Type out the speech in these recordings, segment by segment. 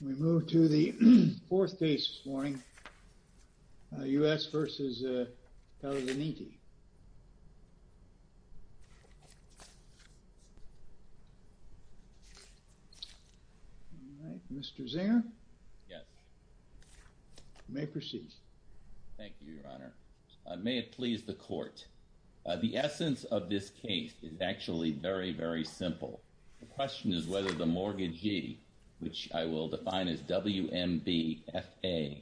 We move to the fourth case this morning, U.S. v. Palladinetti. Mr. Zinger. Yes. You may proceed. Thank you, Your Honor. May it please the court. The essence of this case is actually very, very simple. The question is whether the mortgagee, which I will define as WMBFA,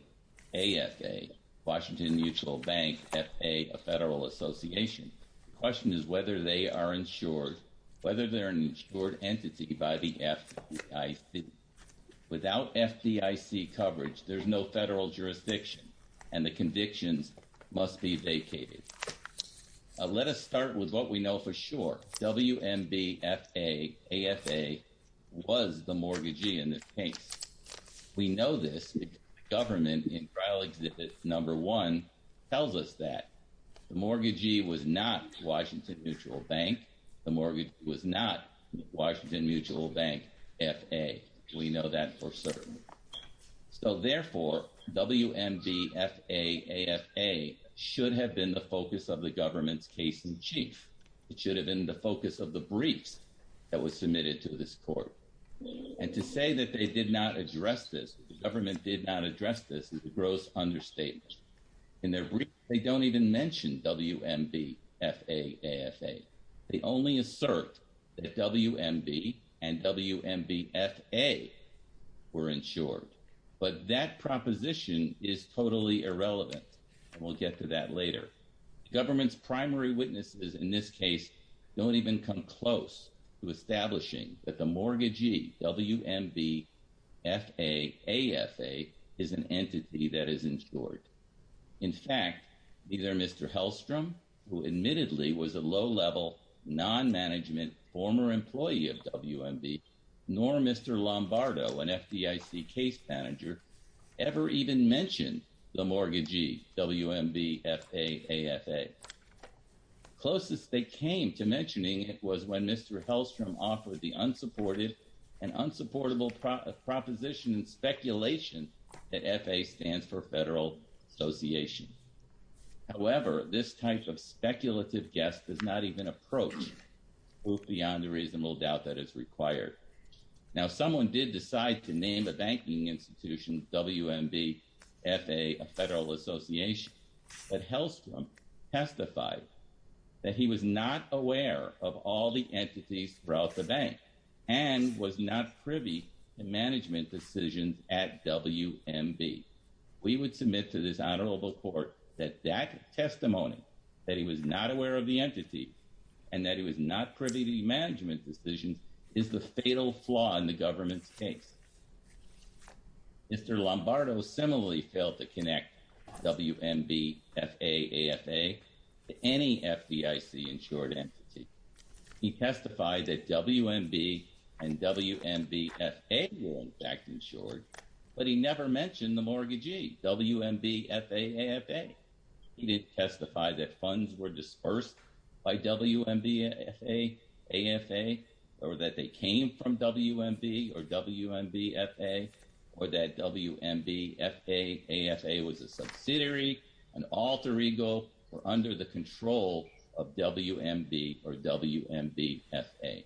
AFA, Washington Mutual Bank, FA, a federal association, the question is whether they are insured, whether they're an insured entity by the FDIC. Without FDIC coverage, there's no federal jurisdiction, and the convictions must be vacated. Let us start with what we know for sure. WMBFA, AFA, was the mortgagee in this case. We know this because the government in trial exhibit number one tells us that. The mortgagee was not Washington Mutual Bank. The mortgagee was not Washington Mutual Bank. WMBFA, AFA, should have been the focus of the government's case in chief. It should have been the focus of the briefs that was submitted to this court. And to say that they did not address this, the government did not address this, is a gross understatement. In their brief, they don't even mention WMBFA, AFA. They only assert that WMB and WMBFA were insured. But that proposition is totally irrelevant, and we'll get to that later. Government's primary witnesses in this case don't even come close to establishing that the mortgagee, WMBFA, AFA, is an entity that is insured. In fact, neither Mr. Hellstrom, who admittedly was a low-level, non-management, former employee of WMB, nor Mr. Lombardo, an FDIC case manager, ever even mentioned the mortgagee, WMBFA, AFA. Closest they came to mentioning it was when Mr. Hellstrom offered the unsupported and unsupportable proposition and speculation that FA stands for Federal Association. However, this type of speculative guess does not even approach beyond the reasonable doubt that it's required. Now, someone did decide to name a banking institution WMBFA, a Federal Association, but Hellstrom testified that he was not aware of all the entities throughout the bank and was not privy to management decisions at WMB. We would submit to this honorable court that that testimony, that he was not aware of the entity and that he was not privy to management decisions, is the fatal flaw in the government's case. Mr. Lombardo similarly failed to connect WMBFA, AFA to any FDIC-insured entity. He testified that WMB and WMBFA were, in fact, insured, but he never mentioned the mortgagee, WMBFA, AFA. He did testify that funds were dispersed by WMBFA, AFA, or that they came from WMB or WMBFA, or that WMBFA, AFA was a subsidiary, an alter ego, or under the control of WMB or WMBFA.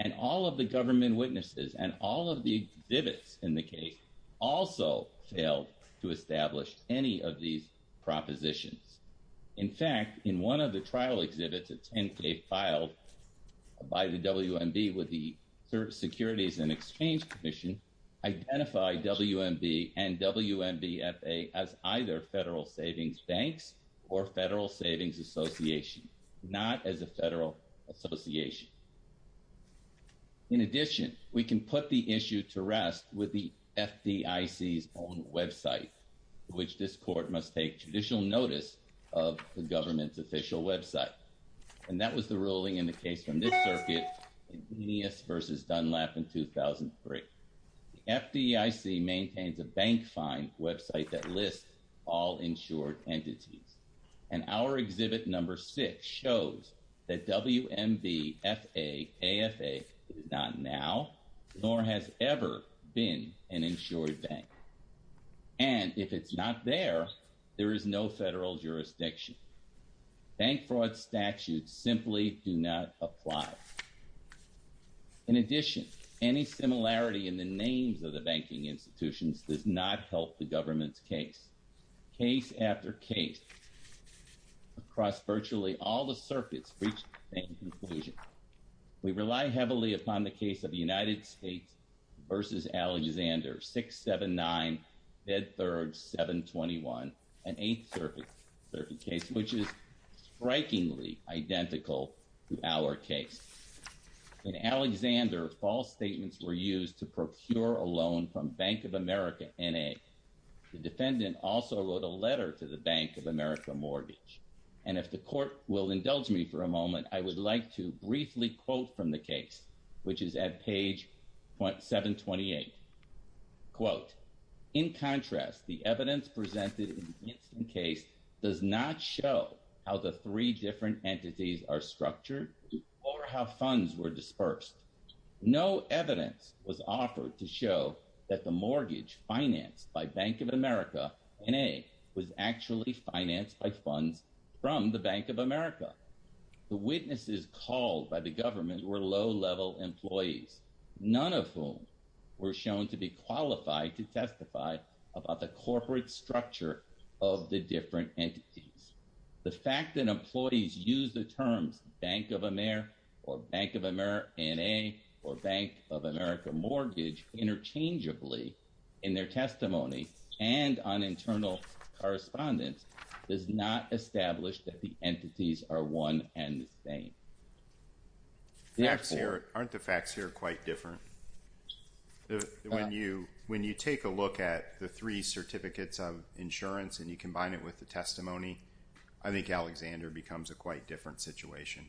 And all of the government witnesses and all of the exhibits in the case also failed to establish any of these propositions. In fact, in one of the trial exhibits at 10K filed by the WMB with the Securities and Exchange Commission, identified WMB and WMBFA as either Federal Savings Banks or Federal Savings Association, not as a federal association. In addition, we can put the issue to rest with the FDIC's own website, which this court must take judicial notice of the government's official website. And that was the ruling in the case from this circuit in Nunez versus Dunlap in 2003. The FDIC maintains a bank find website that lists all insured entities. And our exhibit number six shows that WMBFA, AFA is not now nor has ever been an insured bank. And if it's not there, there is no federal jurisdiction. Bank fraud statutes simply do not apply. In addition, any similarity in the names of the banking institutions does not help the government's case. Case after case, across virtually all the circuits, reach the same conclusion. We rely heavily upon the case of the United States versus Alexander, 679, Bed 3rd, 721, an eighth circuit case, which is strikingly identical to our case. In Alexander, false statements were used to procure a loan from Bank of America, N.A. The defendant also wrote a letter to the Bank of America mortgage. And if the court will indulge me for a moment, I would like to briefly quote from the case, which is at page 728. Quote, in contrast, the evidence presented in this case does not show how the three different entities are structured or how funds were dispersed. No evidence was offered to show that the mortgage financed by Bank of America, N.A., was actually financed by funds from the Bank of America. The witnesses called by the government were low-level employees, none of whom were shown to be qualified to testify about the corporate structure of the different entities. The fact that employees use the terms Bank of America or Bank of America, N.A., or Bank of America mortgage interchangeably in their testimony and on internal correspondence does not establish that the entities are one and the same. Facts here, aren't the facts here quite different? When you, when you take a look at the three certificates of insurance and you combine it with the testimony, I think Alexander becomes a quite different situation.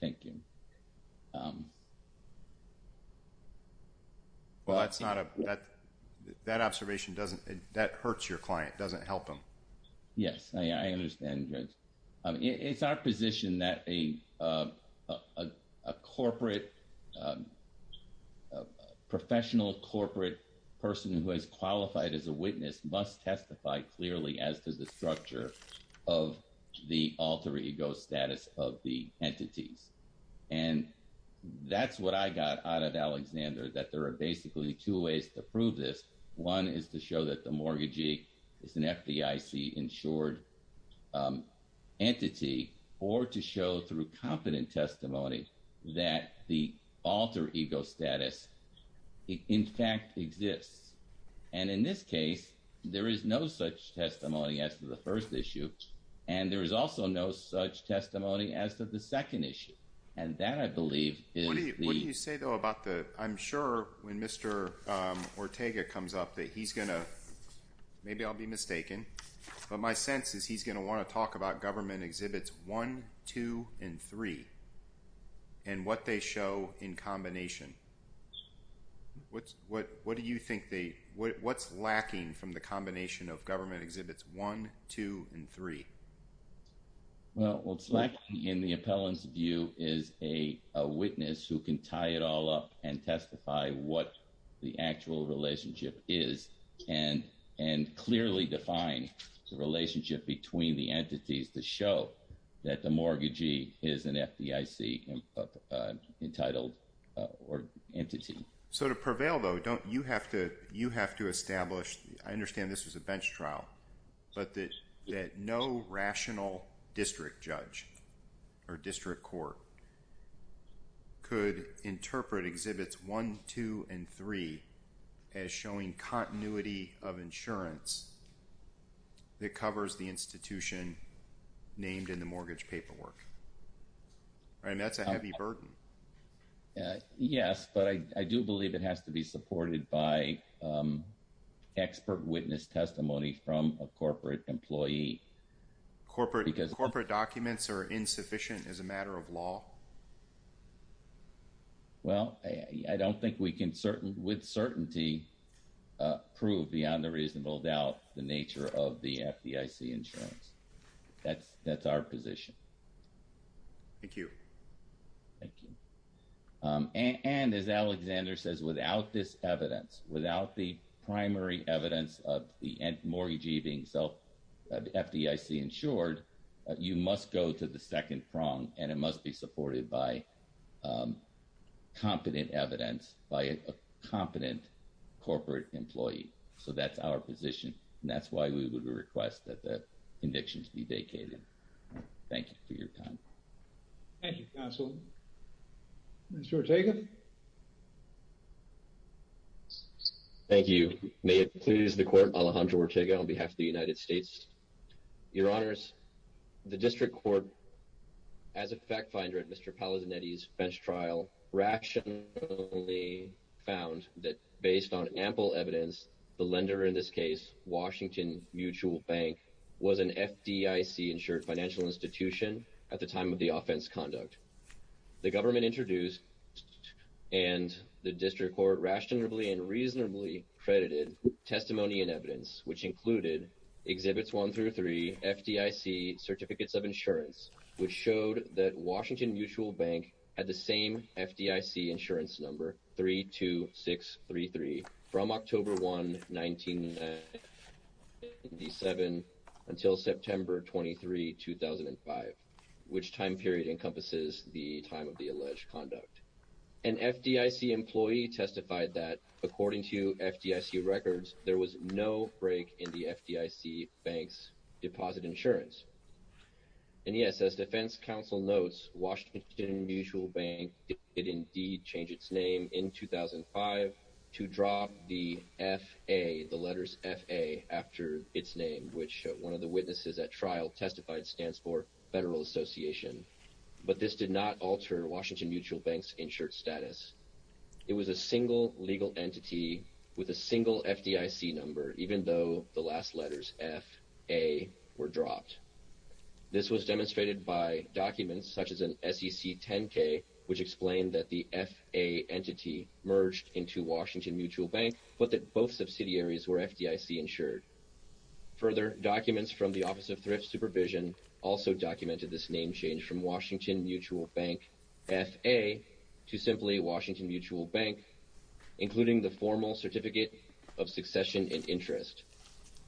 Thank you. Well, that's not a, that observation doesn't, that hurts your client, doesn't help him. Yes, I understand. It's our position that a corporate, professional corporate person who has qualified as a witness must testify clearly as to the structure of the alter ego status of the entities. And that's what I got out of Alexander that there are basically two ways to prove this. One is to show that the mortgagee is an FDIC-insured entity or to show through competent testimony that the alter ego status in fact exists. And in this case, there is no such testimony as to the first issue. And there is also no such testimony as to the second issue. And that, I believe, is the— I'm going to ask Mr. Smith to tie this up, that he's going to, maybe I'll be mistaken, but my sense is he's going to want to talk about government exhibits one, two, and three, and what they show in combination. What's, what, what do you think they, what's lacking from the combination of government exhibits one, two, and three? Well, what's lacking in the appellant's view is a witness who can tie it all up and testify what the actual relationship is and clearly define the relationship between the entities to show that the mortgagee is an FDIC-entitled entity. So to prevail, though, don't you have to, you have to establish, I understand this was a bench trial, but that no rational district judge or district court could interpret exhibits one, two, and three as showing continuity of insurance that covers the institution named in the mortgage paperwork. And that's a heavy burden. Yes, but I do believe it has to be supported by expert witness testimony from a corporate employee. Corporate documents are insufficient as a matter of law? Well, I don't think we can with certainty prove beyond a reasonable doubt the nature of the FDIC insurance. That's our position. Thank you. Thank you. And as Alexander says, without this evidence, without the primary evidence of the mortgagee being self-FDIC insured, you must go to the second prong, and it must be supported by competent evidence by a competent corporate employee. So that's our position, and that's why we would request that the convictions be vacated. Thank you for your time. Thank you, counsel. Mr. Ortega. Thank you. May it please the court, Alejandro Ortega on behalf of the United States. Your honors, the district court, as a fact finder at Mr. Palazinetti's bench trial, rationally found that based on ample evidence, the lender in this case, Washington Mutual Bank, was an FDIC insured financial institution at the time of the offense conduct. The government introduced and the district court rationally and reasonably credited testimony and evidence, which included exhibits one through three FDIC certificates of insurance, which showed that Washington Mutual Bank had the same FDIC insurance number, 32633, from October 1, 1997 until September 23, 2005, which time period encompasses the time of the alleged conduct. An FDIC employee testified that according to FDIC records, there was no break in the FDIC bank's Washington Mutual Bank did indeed change its name in 2005 to drop the F-A, the letters F-A, after its name, which one of the witnesses at trial testified stands for Federal Association. But this did not alter Washington Mutual Bank's insured status. It was a single legal entity with a single FDIC number, even though the last letters F-A were dropped. This was demonstrated by documents such as an SEC 10-K, which explained that the F-A entity merged into Washington Mutual Bank, but that both subsidiaries were FDIC insured. Further, documents from the Office of Thrift Supervision also documented this name change from Washington Mutual Bank F-A to simply Washington Mutual Bank, including the formal certificate of succession and interest.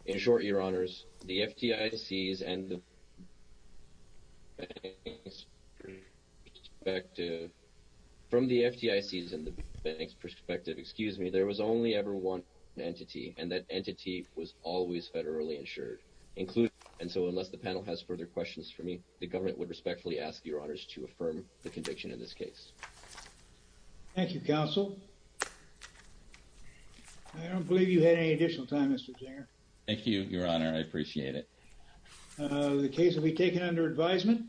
In short, Your Honors, the FDICs and the bank's perspective, from the FDICs and the bank's perspective, excuse me, there was only ever one entity and that entity was always federally insured, including, and so unless the panel has further questions for me, the government would respectfully ask Your Honors to affirm the conviction of this case. Thank you, Counsel. I don't believe you had any additional time, Mr. Jinger. Thank you, Your Honor. I appreciate it. The case will be taken under advisement.